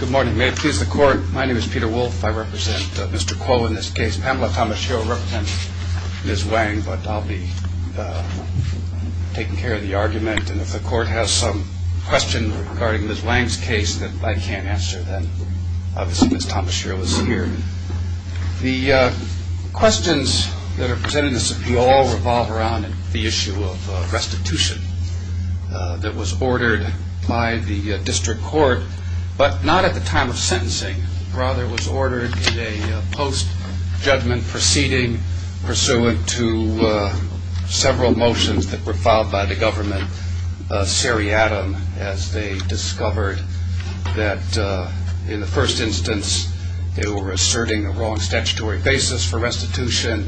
Good morning. May it please the court. My name is Peter Wolfe. I represent Mr. Kuo in this case. Pamela Thomas-Shirrell represents Ms. Wang, but I'll be taking care of the argument. And if the court has some questions regarding Ms. Wang's case that I can't answer, then obviously Ms. Thomas-Shirrell is here. The questions that are presented in this appeal all revolve around the issue of restitution that was ordered by the district court, but not at the time of sentencing. Rather, it was ordered in a post-judgment proceeding pursuant to several motions that were filed by the government, seriatim, as they discovered that in the first instance they were asserting a wrong statutory basis for restitution,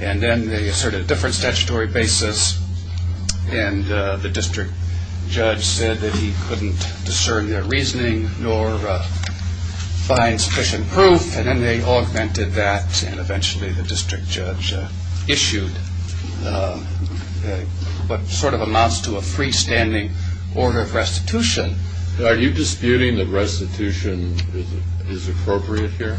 and then they asserted a different statutory basis. And the district judge said that he couldn't discern their reasoning nor find sufficient proof, and then they augmented that, and eventually the district judge issued what sort of amounts to a freestanding order of restitution. Are you disputing that restitution is appropriate here?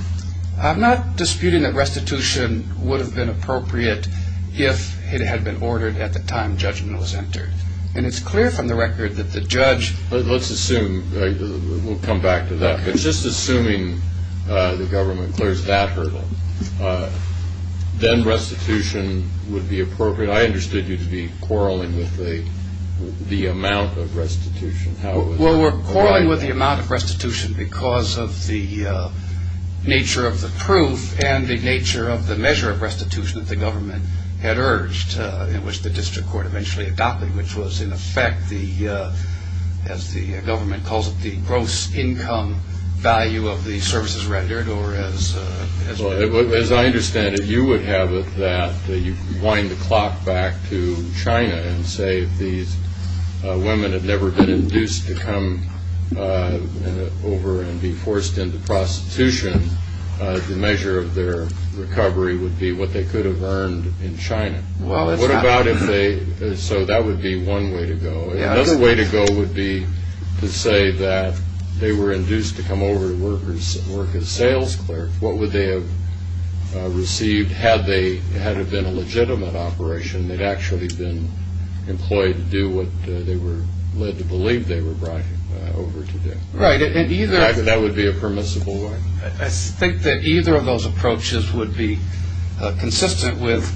I'm not disputing that restitution would have been appropriate if it had been ordered at the time judgment was entered. And it's clear from the record that the judge... Let's assume, we'll come back to that, but just assuming the government clears that hurdle, then restitution would be appropriate. I understood you to be quarreling with the amount of restitution. Well, we're quarreling with the amount of restitution because of the nature of the proof and the nature of the measure of restitution that the government had urged, in which the district court eventually adopted, which was in effect, as the government calls it, the gross income value of the services rendered, or as... As I understand it, you would have it that you wind the clock back to China and say if these women had never been induced to come over and be forced into prostitution, the measure of their recovery would be what they could have earned in China. Well, what about if they... So that would be one way to go. Another way to go would be to say that they were induced to come over to work as sales clerks. What would they have received had it been a legitimate operation? They'd actually been employed to do what they were led to believe they were brought over to do. Right, and either... That would be a permissible way. I think that either of those approaches would be consistent with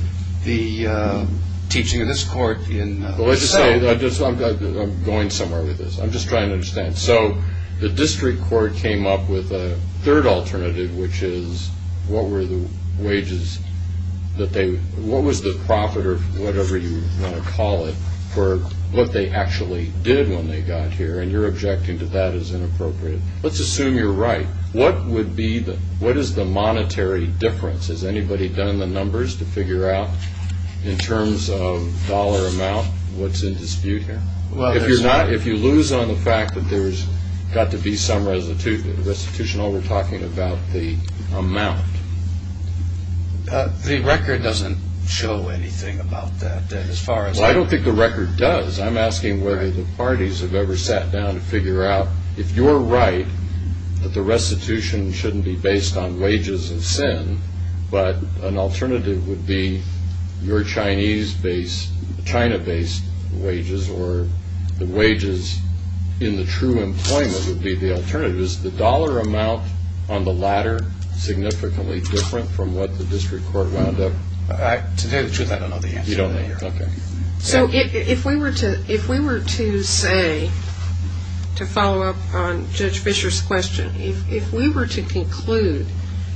the teaching of this court in... What is the monetary difference? Has anybody done the numbers to figure out, in terms of dollar amount, what's in dispute here? Well, there's not... If you lose on the fact that there's got to be some restitution, all we're talking about is the amount. The record doesn't show anything about that, as far as... Well, I don't think the record does. I'm asking whether the parties have ever sat down to figure out, if you're right, that the restitution shouldn't be based on wages of sin, but an alternative would be your Chinese-based, China-based wages, or the wages in the true employment would be the alternative. Is the dollar amount on the latter significantly different from what the district court wound up... To tell you the truth, I don't know the answer. So, if we were to say, to follow up on Judge Fisher's question, if we were to conclude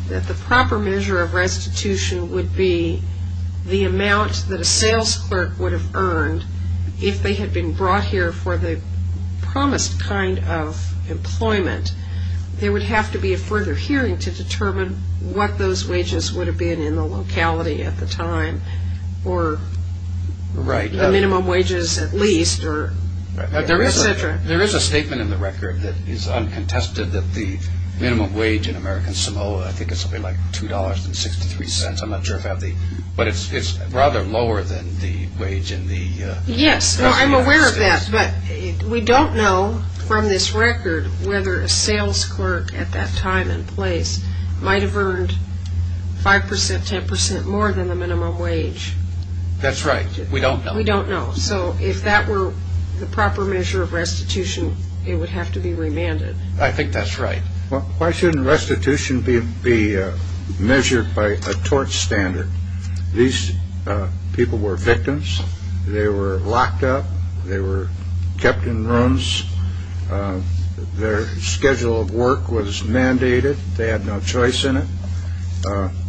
that the proper measure of restitution would be the amount that a sales clerk would have earned if they had been brought here for the promised kind of employment, there would have to be a further hearing to determine what those wages would have been in the locality at the time, or the minimum wages at least, or etc. There is a statement in the record that is uncontested that the minimum wage in American Samoa, I think it's something like $2.63, I'm not sure if I have the... but it's rather lower than the wage in the... Yes, I'm aware of that, but we don't know from this record whether a sales clerk at that time and place might have earned 5%, 10% more than the minimum wage. That's right, we don't know. We don't know, so if that were the proper measure of restitution, it would have to be remanded. I think that's right. Why shouldn't restitution be measured by a tort standard? These people were victims, they were locked up, they were kept in rooms, their schedule of work was mandated, they had no choice in it,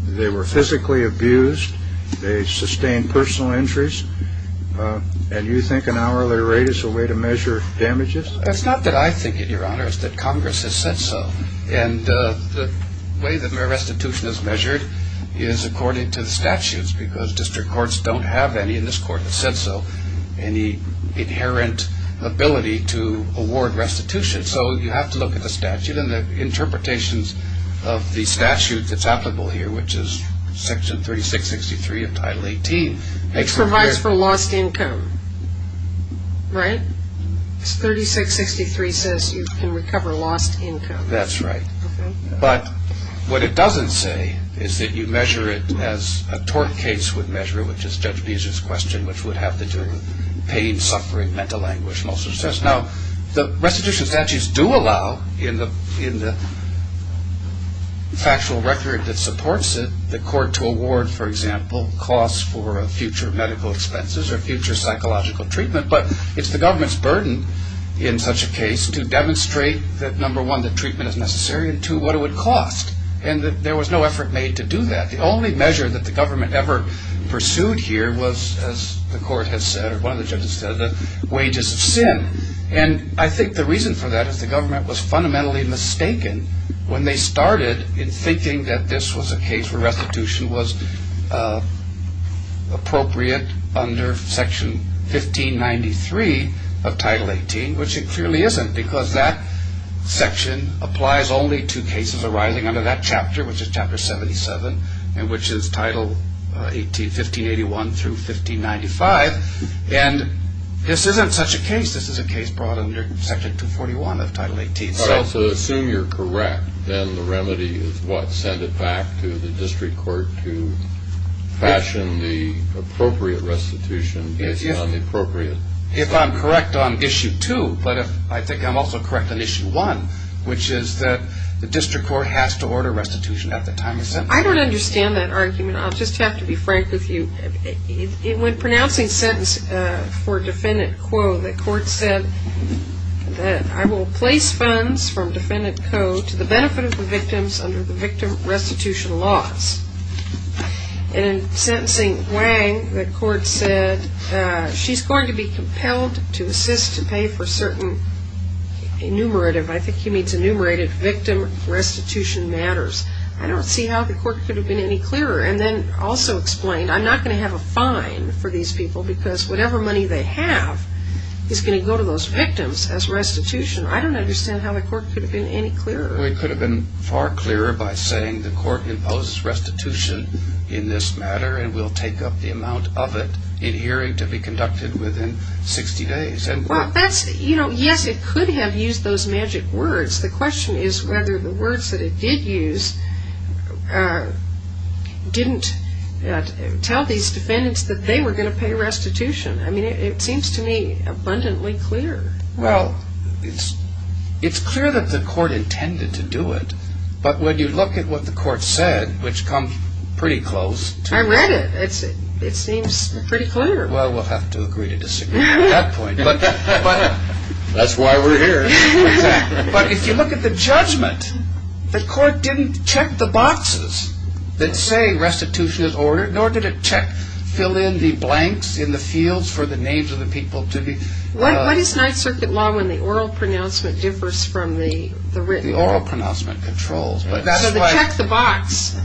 they were physically abused, they sustained personal injuries, and you think an hourly rate is a way to measure damages? It's not that I think it, Your Honor, it's that Congress has said so, and the way that restitution is measured is according to the statutes, because district courts don't have any, and this court has said so, any inherent ability to award restitution, so you have to look at the statute and the interpretations of the statute that's applicable here, which is section 3663 of Title 18. It provides for lost income, right? 3663 says you can recover lost income. That's right. But what it doesn't say is that you measure it as a tort case would measure it, which is Judge Beezer's question, which would have to do with pain, suffering, mental anguish, and all sorts of things. Now, the restitution statutes do allow, in the factual record that supports it, the court to award, for example, costs for future medical expenses or future psychological treatment, but it's the government's burden in such a case to demonstrate that, number one, that treatment is necessary, and two, what it would cost, and that there was no effort made to do that. The only measure that the government ever pursued here was, as the court has said, or one of the judges said, the wages of sin, and I think the reason for that is the government was fundamentally mistaken when they started in thinking that this was a case where restitution was appropriate under section 1593 of Title 18, which it clearly isn't, because that section applies only to cases arising under that chapter, which is chapter 77. And which is Title 18, 1581 through 1595, and this isn't such a case. This is a case brought under Section 241 of Title 18. All right, so assume you're correct, then the remedy is what? Send it back to the district court to fashion the appropriate restitution based on the appropriate… If I'm correct on issue two, but if I think I'm also correct on issue one, which is that the district court has to order restitution at the time of sentencing. I don't understand that argument. I'll just have to be frank with you. When pronouncing sentence for Defendant Kuo, the court said that I will place funds from Defendant Kuo to the benefit of the victims under the victim restitution laws. And in sentencing Wang, the court said she's going to be compelled to assist to pay for certain enumerative, I think he means enumerated victim restitution matters. I don't see how the court could have been any clearer. And then also explained I'm not going to have a fine for these people because whatever money they have is going to go to those victims as restitution. I don't understand how the court could have been any clearer. Well, it could have been far clearer by saying the court imposes restitution in this matter and will take up the amount of it in hearing to be conducted within 60 days. Well, that's, you know, yes, it could have used those magic words. The question is whether the words that it did use didn't tell these defendants that they were going to pay restitution. I mean, it seems to me abundantly clear. Well, it's clear that the court intended to do it. But when you look at what the court said, which comes pretty close. I read it. It seems pretty clear. Well, we'll have to agree to disagree at that point. That's why we're here. Exactly. But if you look at the judgment, the court didn't check the boxes that say restitution is ordered, nor did it check, fill in the blanks in the fields for the names of the people to be. What is Ninth Circuit law when the oral pronouncement differs from the written? The oral pronouncement controls. So the check the box.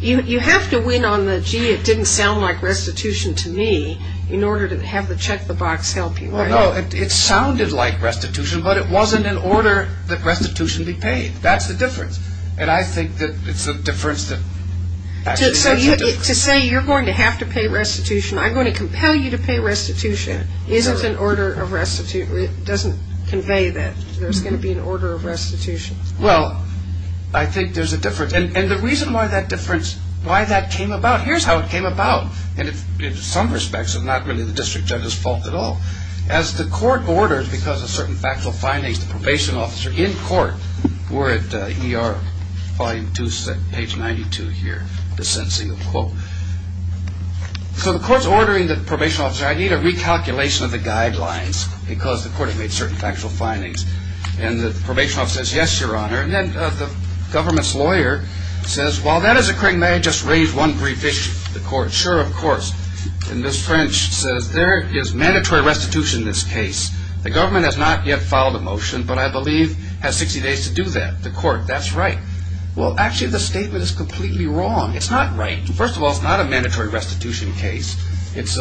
You have to win on the, gee, it didn't sound like restitution to me in order to have the check the box help you. Well, no, it sounded like restitution, but it wasn't in order that restitution be paid. That's the difference. And I think that it's the difference that. So to say you're going to have to pay restitution, I'm going to compel you to pay restitution isn't an order of restitution. It doesn't convey that there's going to be an order of restitution. Well, I think there's a difference. And the reason why that difference, why that came about, here's how it came about. In some respects, it's not really the district judge's fault at all. As the court orders, because of certain factual findings, the probation officer in court, we're at ER Volume 2, page 92 here, dissents the quote. So the court's ordering the probation officer, I need a recalculation of the guidelines, because the court had made certain factual findings. And the probation officer says, yes, Your Honor. And then the government's lawyer says, while that is occurring, may I just raise one brief issue with the court? Sure, of course. And Ms. French says, there is mandatory restitution in this case. The government has not yet filed a motion, but I believe has 60 days to do that. The court, that's right. Well, actually, the statement is completely wrong. It's not right. First of all, it's not a mandatory restitution case. It's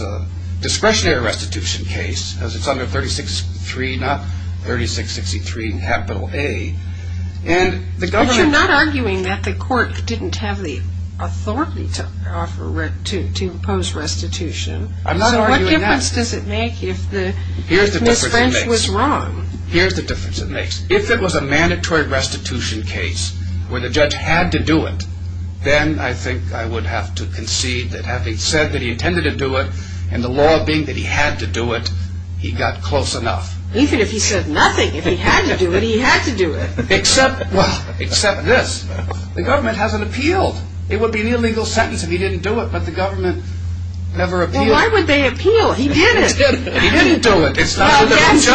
a discretionary restitution case, as it's under 3663, not 3663 capital A. But you're not arguing that the court didn't have the authority to impose restitution. I'm not arguing that. So what difference does it make if Ms. French was wrong? Here's the difference it makes. If it was a mandatory restitution case where the judge had to do it, then I think I would have to concede that having said that he intended to do it, and the law being that he had to do it, he got close enough. Even if he said nothing, if he had to do it, he had to do it. Except, well, except this. The government hasn't appealed. It would be an illegal sentence if he didn't do it, but the government never appealed. Well, why would they appeal? He didn't. He didn't do it. Well, that's your argument.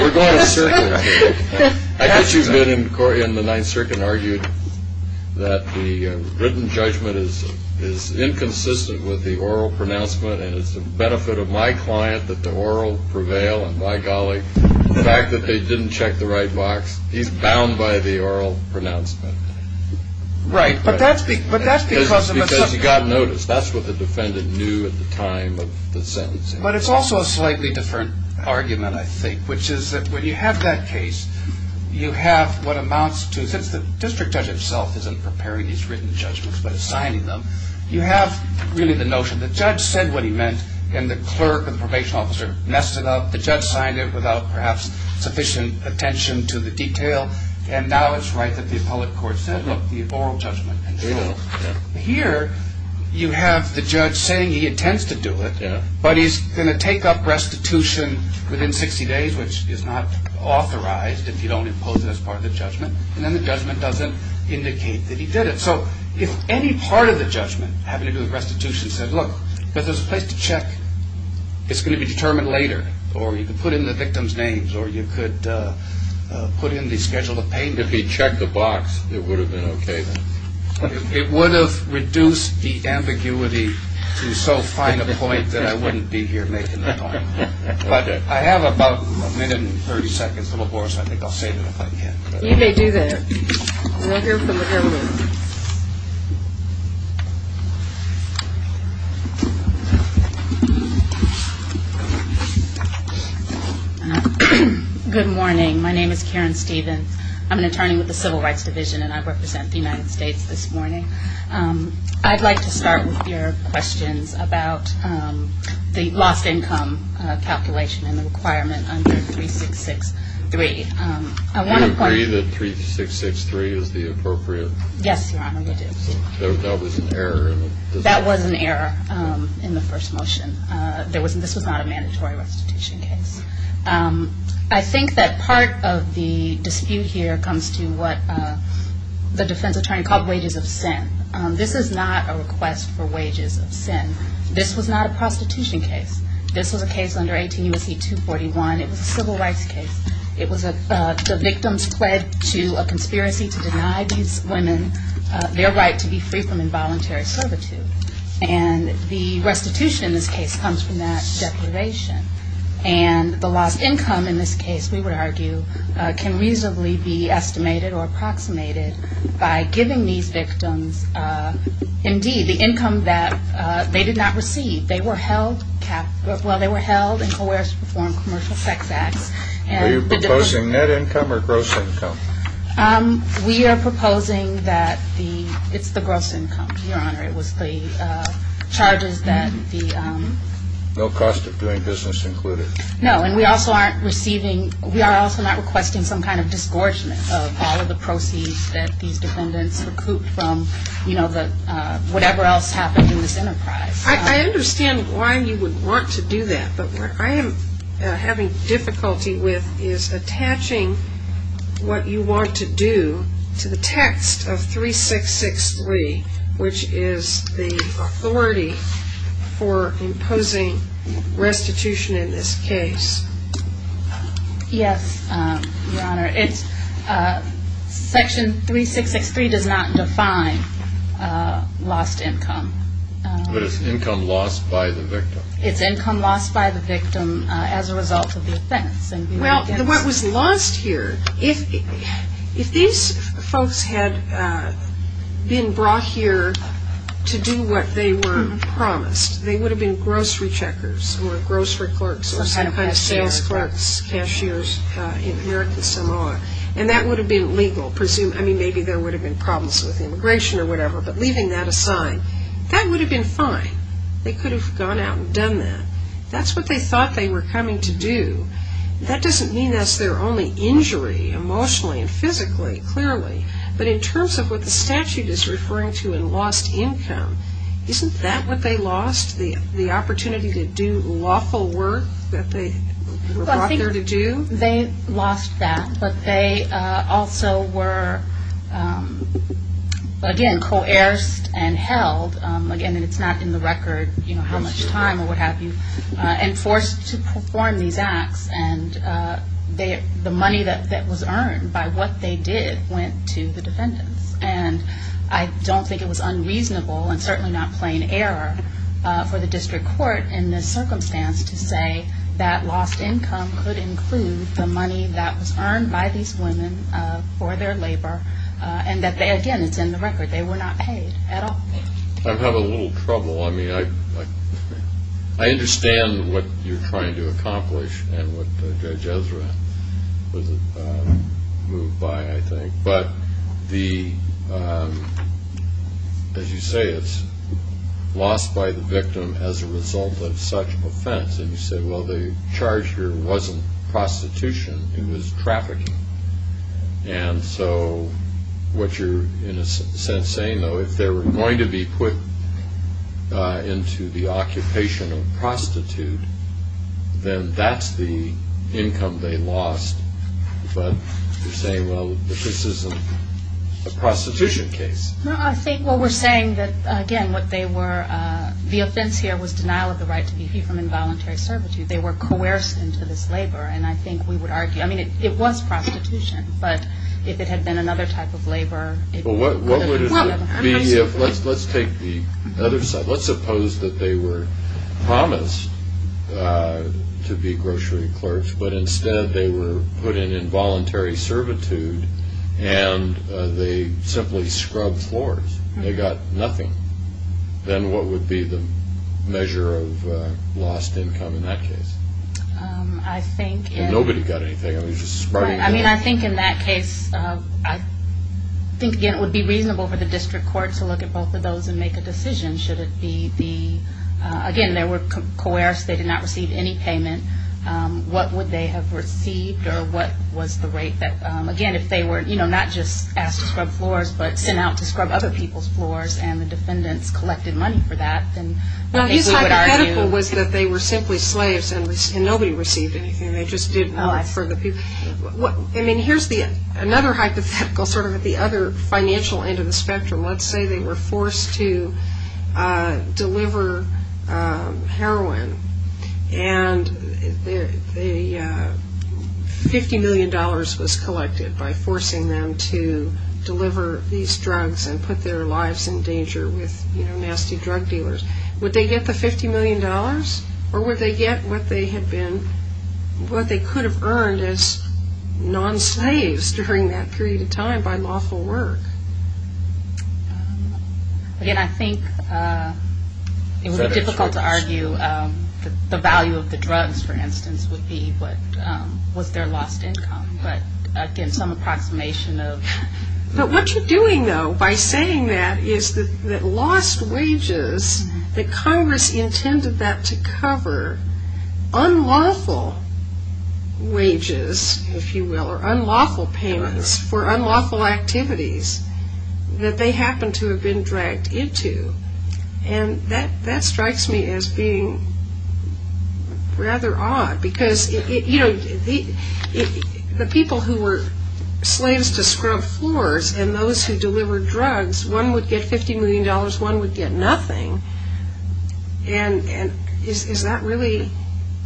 We're going in circles. I bet you've been in the Ninth Circuit and argued that the written judgment is inconsistent with the oral pronouncement, and it's the benefit of my client that the oral prevail, and by golly, the fact that they didn't check the right box, he's bound by the oral pronouncement. Right. But that's because of the subject. Because he got notice. That's what the defendant knew at the time of the sentence. But it's also a slightly different argument, I think, which is that when you have that case, you have what amounts to, since the district judge himself isn't preparing these written judgments but is signing them, you have really the notion the judge said what he meant, and the clerk and the probation officer messed it up. The judge signed it without perhaps sufficient attention to the detail, and now it's right that the appellate court said, look, the oral judgment controls. Here you have the judge saying he intends to do it, but he's going to take up restitution within 60 days, which is not authorized if you don't impose it as part of the judgment, and then the judgment doesn't indicate that he did it. So if any part of the judgment having to do with restitution said, look, but there's a place to check, it's going to be determined later, or you could put in the victim's names, or you could put in the schedule of payment. And if he checked the box, it would have been okay then. It would have reduced the ambiguity to so fine a point that I wouldn't be here making the point. But I have about a minute and 30 seconds, a little more, so I think I'll save it if I can. You may do that. We'll hear from the jury. Good morning. My name is Karen Stevens. I'm an attorney with the Civil Rights Division, and I represent the United States this morning. I'd like to start with your questions about the lost income calculation and the requirement under 3663. Do you agree that 3663 is the appropriate? Yes, Your Honor, we do. That was an error in the first motion. This was not a mandatory restitution case. I think that part of the dispute here comes to what the defense attorney called wages of sin. This is not a request for wages of sin. This was not a prostitution case. This was a case under 18 U.S.C. 241. It was a civil rights case. The victims pled to a conspiracy to deny these women their right to be free from involuntary servitude. And the restitution in this case comes from that declaration. And the lost income in this case, we would argue, can reasonably be estimated or approximated by giving these victims, indeed, the income that they did not receive. They were held and coerced to perform commercial sex acts. Are you proposing net income or gross income? We are proposing that it's the gross income, Your Honor. It was the charges that the – No cost of doing business included. No, and we also aren't receiving – we are also not requesting some kind of disgorgement of all of the proceeds that these defendants recouped from, you know, whatever else happened in this enterprise. I understand why you would want to do that. But what I am having difficulty with is attaching what you want to do to the text of 3663, which is the authority for imposing restitution in this case. Yes, Your Honor. It's – Section 3663 does not define lost income. But it's income lost by the victim. It's income lost by the victim as a result of the offense. Well, what was lost here, if these folks had been brought here to do what they were promised, they would have been grocery checkers or grocery clerks or some kind of sales clerks, cashiers, in America some are. And that would have been legal. I mean, maybe there would have been problems with immigration or whatever, but leaving that aside, that would have been fine. They could have gone out and done that. That's what they thought they were coming to do. That doesn't mean that's their only injury emotionally and physically, clearly. But in terms of what the statute is referring to in lost income, isn't that what they lost, the opportunity to do lawful work that they were brought there to do? They lost that, but they also were, again, coerced and held. Again, it's not in the record, you know, how much time or what have you, and forced to perform these acts. And the money that was earned by what they did went to the defendants. And I don't think it was unreasonable and certainly not plain error for the district court in this circumstance to say that lost income could include the money that was earned by these women for their labor, and that they, again, it's in the record, they were not paid at all. I'm having a little trouble. I mean, I understand what you're trying to accomplish and what Judge Ezra moved by, I think. But as you say, it's lost by the victim as a result of such offense. And you said, well, the charge here wasn't prostitution, it was trafficking. And so what you're in a sense saying, though, if they were going to be put into the occupation of prostitute, then that's the income they lost. But you're saying, well, if this isn't a prostitution case. No, I think what we're saying that, again, what they were, the offense here was denial of the right to be free from involuntary servitude. They were coerced into this labor. And I think we would argue, I mean, it was prostitution. But if it had been another type of labor. Well, what would it be if, let's take the other side. Let's suppose that they were promised to be grocery clerks, but instead they were put in involuntary servitude and they simply scrubbed floors. They got nothing. Then what would be the measure of lost income in that case? Nobody got anything. I mean, I think in that case, I think, again, it would be reasonable for the district court to look at both of those and make a decision. Should it be, again, they were coerced. They did not receive any payment. What would they have received? Or what was the rate that, again, if they were, you know, not just asked to scrub floors, but sent out to scrub other people's floors and the defendants collected money for that, then they would argue. Well, his hypothetical was that they were simply slaves and nobody received anything. They just did not for the people. I mean, here's another hypothetical sort of at the other financial end of the spectrum. Let's say they were forced to deliver heroin. And $50 million was collected by forcing them to deliver these drugs and put their lives in danger with, you know, nasty drug dealers. Would they get the $50 million? Or would they get what they had been, what they could have earned as non-slaves during that period of time by lawful work? Again, I think it would be difficult to argue the value of the drugs, for instance, would be what was their lost income. But, again, some approximation of. But what you're doing, though, by saying that is that lost wages, that Congress intended that to cover unlawful wages, if you will, or unlawful payments for unlawful activities that they happened to have been dragged into. And that strikes me as being rather odd. Because, you know, the people who were slaves to scrub floors and those who delivered drugs, one would get $50 million, one would get nothing. And is that really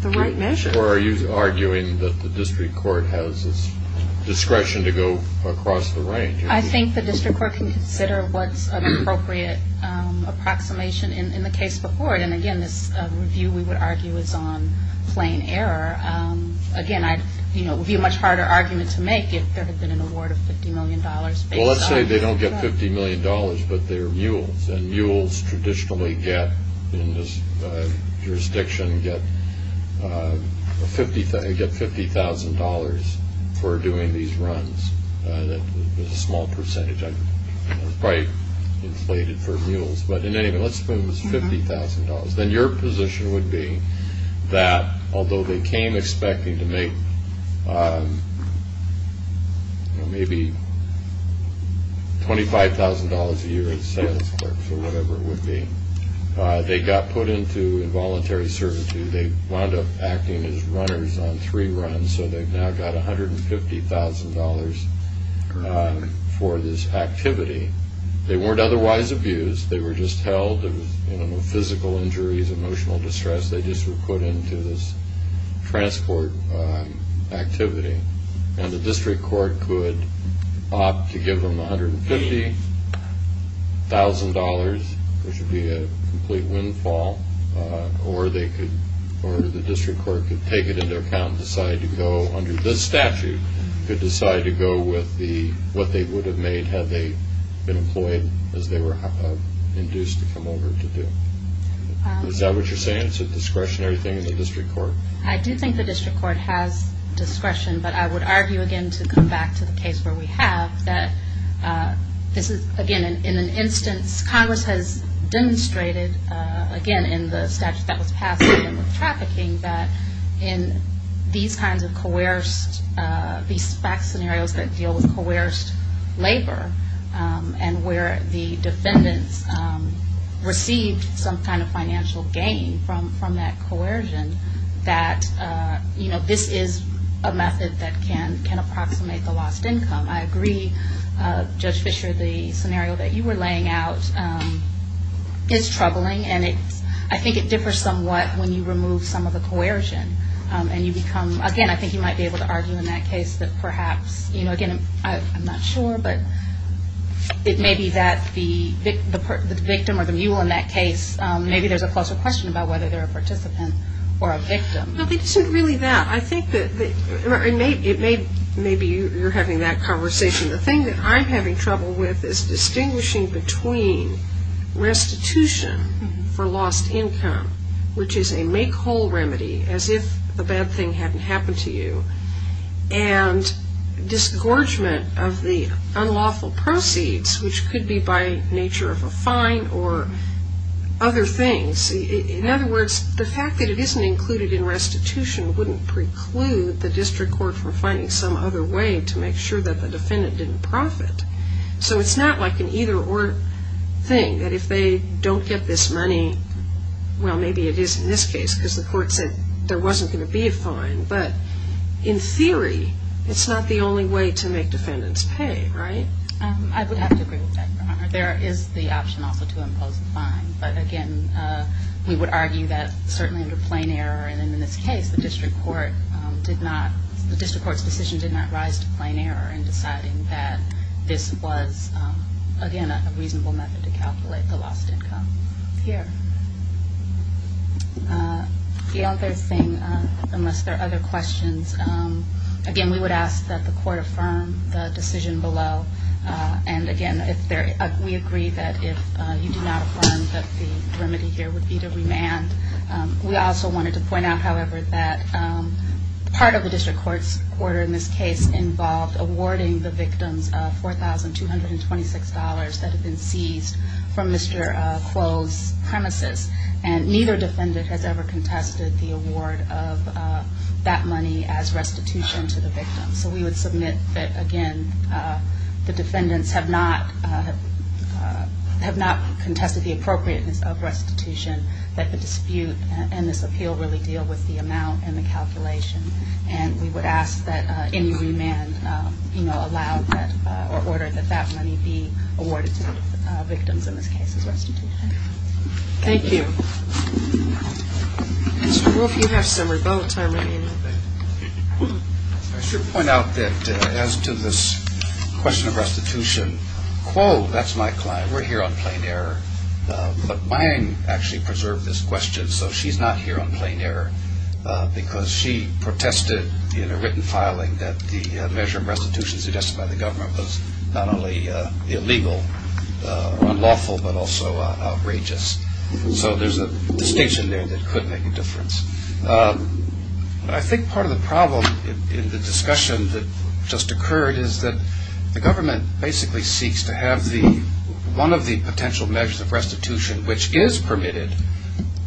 the right measure? Or are you arguing that the district court has discretion to go across the range? I think the district court can consider what's an appropriate approximation in the case before it. And, again, this review, we would argue, is on plain error. Again, you know, it would be a much harder argument to make if there had been an award of $50 million based on that. Well, let's say they don't get $50 million, but they're mules. And mules traditionally get, in this jurisdiction, get $50,000 for doing these runs. That's a small percentage. It's probably inflated for mules. But, in any event, let's suppose it's $50,000. Then your position would be that, although they came expecting to make, you know, maybe $25,000 a year as sales clerks or whatever it would be, they got put into involuntary servitude. They wound up acting as runners on three runs. So they've now got $150,000 for this activity. They weren't otherwise abused. They were just held. There was, you know, no physical injuries, emotional distress. They just were put into this transport activity. And the district court could opt to give them $150,000, which would be a complete windfall, or the district court could take it into account and decide to go under this statute, could decide to go with what they would have made had they been employed as they were induced to come over to do. Is that what you're saying? It's a discretionary thing in the district court? I do think the district court has discretion, but I would argue, again, to come back to the case where we have, that this is, again, in an instance Congress has demonstrated, again, in the statute that was passed with trafficking, that in these kinds of coerced, these back scenarios that deal with coerced labor and where the defendants received some kind of financial gain from that coercion, that, you know, this is a method that can approximate the lost income. I agree, Judge Fischer, the scenario that you were laying out is troubling, and I think it differs somewhat when you remove some of the coercion. And you become, again, I think you might be able to argue in that case that perhaps, you know, again, I'm not sure, but it may be that the victim or the mule in that case, maybe there's a closer question about whether they're a participant or a victim. No, it isn't really that. I think that it may be you're having that conversation. The thing that I'm having trouble with is distinguishing between restitution for lost income, which is a make whole remedy, as if a bad thing hadn't happened to you, and disgorgement of the unlawful proceeds, which could be by nature of a fine or other things. In other words, the fact that it isn't included in restitution wouldn't preclude the district court from finding some other way to make sure that the defendant didn't profit. So it's not like an either-or thing, that if they don't get this money, well, maybe it is in this case because the court said there wasn't going to be a fine, but in theory, it's not the only way to make defendants pay, right? I would have to agree with that, Your Honor. There is the option also to impose a fine, but again, we would argue that certainly under plain error and in this case, the district court's decision did not rise to plain error in deciding that this was, again, a reasonable method to calculate the lost income. Here. The other thing, unless there are other questions, again, we would ask that the court affirm the decision below, and again, we agree that if you do not affirm that the remedy here would be to remand. We also wanted to point out, however, that part of the district court's order in this case involved awarding the victims $4,226 that had been seized from Mr. Clove's premises, and neither defendant has ever contested the award of that money as restitution to the victim. So we would submit that, again, the defendants have not contested the appropriateness of restitution, that the dispute and this appeal really deal with the amount and the calculation, and we would ask that any remand allowed or ordered that that money be awarded to the victims in this case as restitution. Thank you. Mr. Clove, you have some rebuttal time remaining. I should point out that as to this question of restitution, Clove, that's my client, we're here on plain error, but Mayim actually preserved this question, so she's not here on plain error because she protested in a written filing that the measure of restitution suggested by the government was not only illegal or unlawful, but also outrageous. So there's a distinction there that could make a difference. I think part of the problem in the discussion that just occurred is that the government basically seeks to have one of the potential measures of restitution which is permitted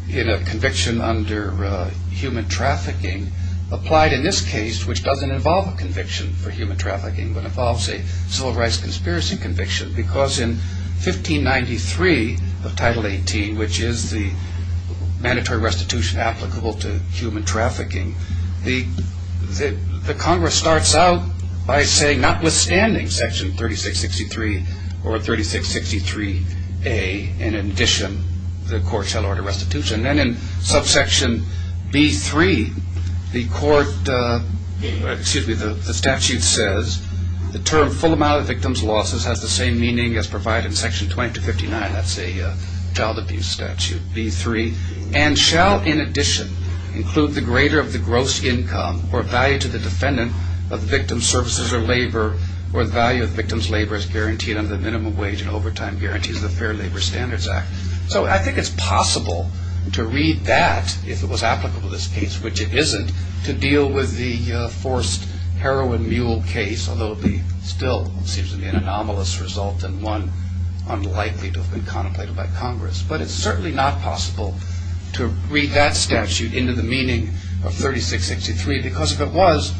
in a conviction under human trafficking, applied in this case, which doesn't involve a conviction for human trafficking, but involves a civil rights conspiracy conviction, because in 1593 of Title 18, which is the mandatory restitution applicable to human trafficking, the Congress starts out by saying, notwithstanding section 3663 or 3663A, in addition, the court shall order restitution. Then in subsection B3, the statute says, the term full amount of victims' losses has the same meaning as provided in section 2259, that's a child abuse statute, B3, and shall, in addition, include the greater of the gross income or value to the defendant of the victim's services or labor or the value of the victim's labor as guaranteed under the Minimum Wage and Overtime Guarantees of the Fair Labor Standards Act. So I think it's possible to read that, if it was applicable in this case, which it isn't, to deal with the forced heroin mule case, although it would still seem to be an anomalous result and one unlikely to have been contemplated by Congress. But it's certainly not possible to read that statute into the meaning of 3663, because if it was,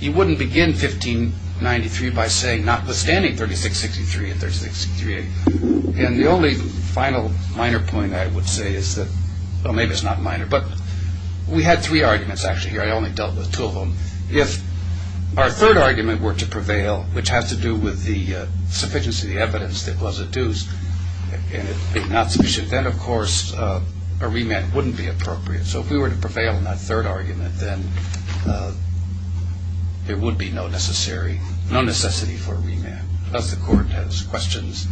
you wouldn't begin 1593 by saying, notwithstanding 3663 and 3663A. And the only final minor point I would say is that, well, maybe it's not minor, but we had three arguments, actually, here. I only dealt with two of them. If our third argument were to prevail, which has to do with the sufficiency of the evidence that was adduced, and it was not sufficient, then, of course, a remand wouldn't be appropriate. So if we were to prevail on that third argument, then there would be no necessity for a remand. Does the Court have questions?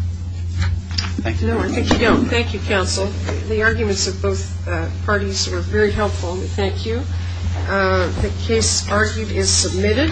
No, I think you don't. Thank you, Counsel. The arguments of both parties were very helpful. Thank you. The case argued is submitted.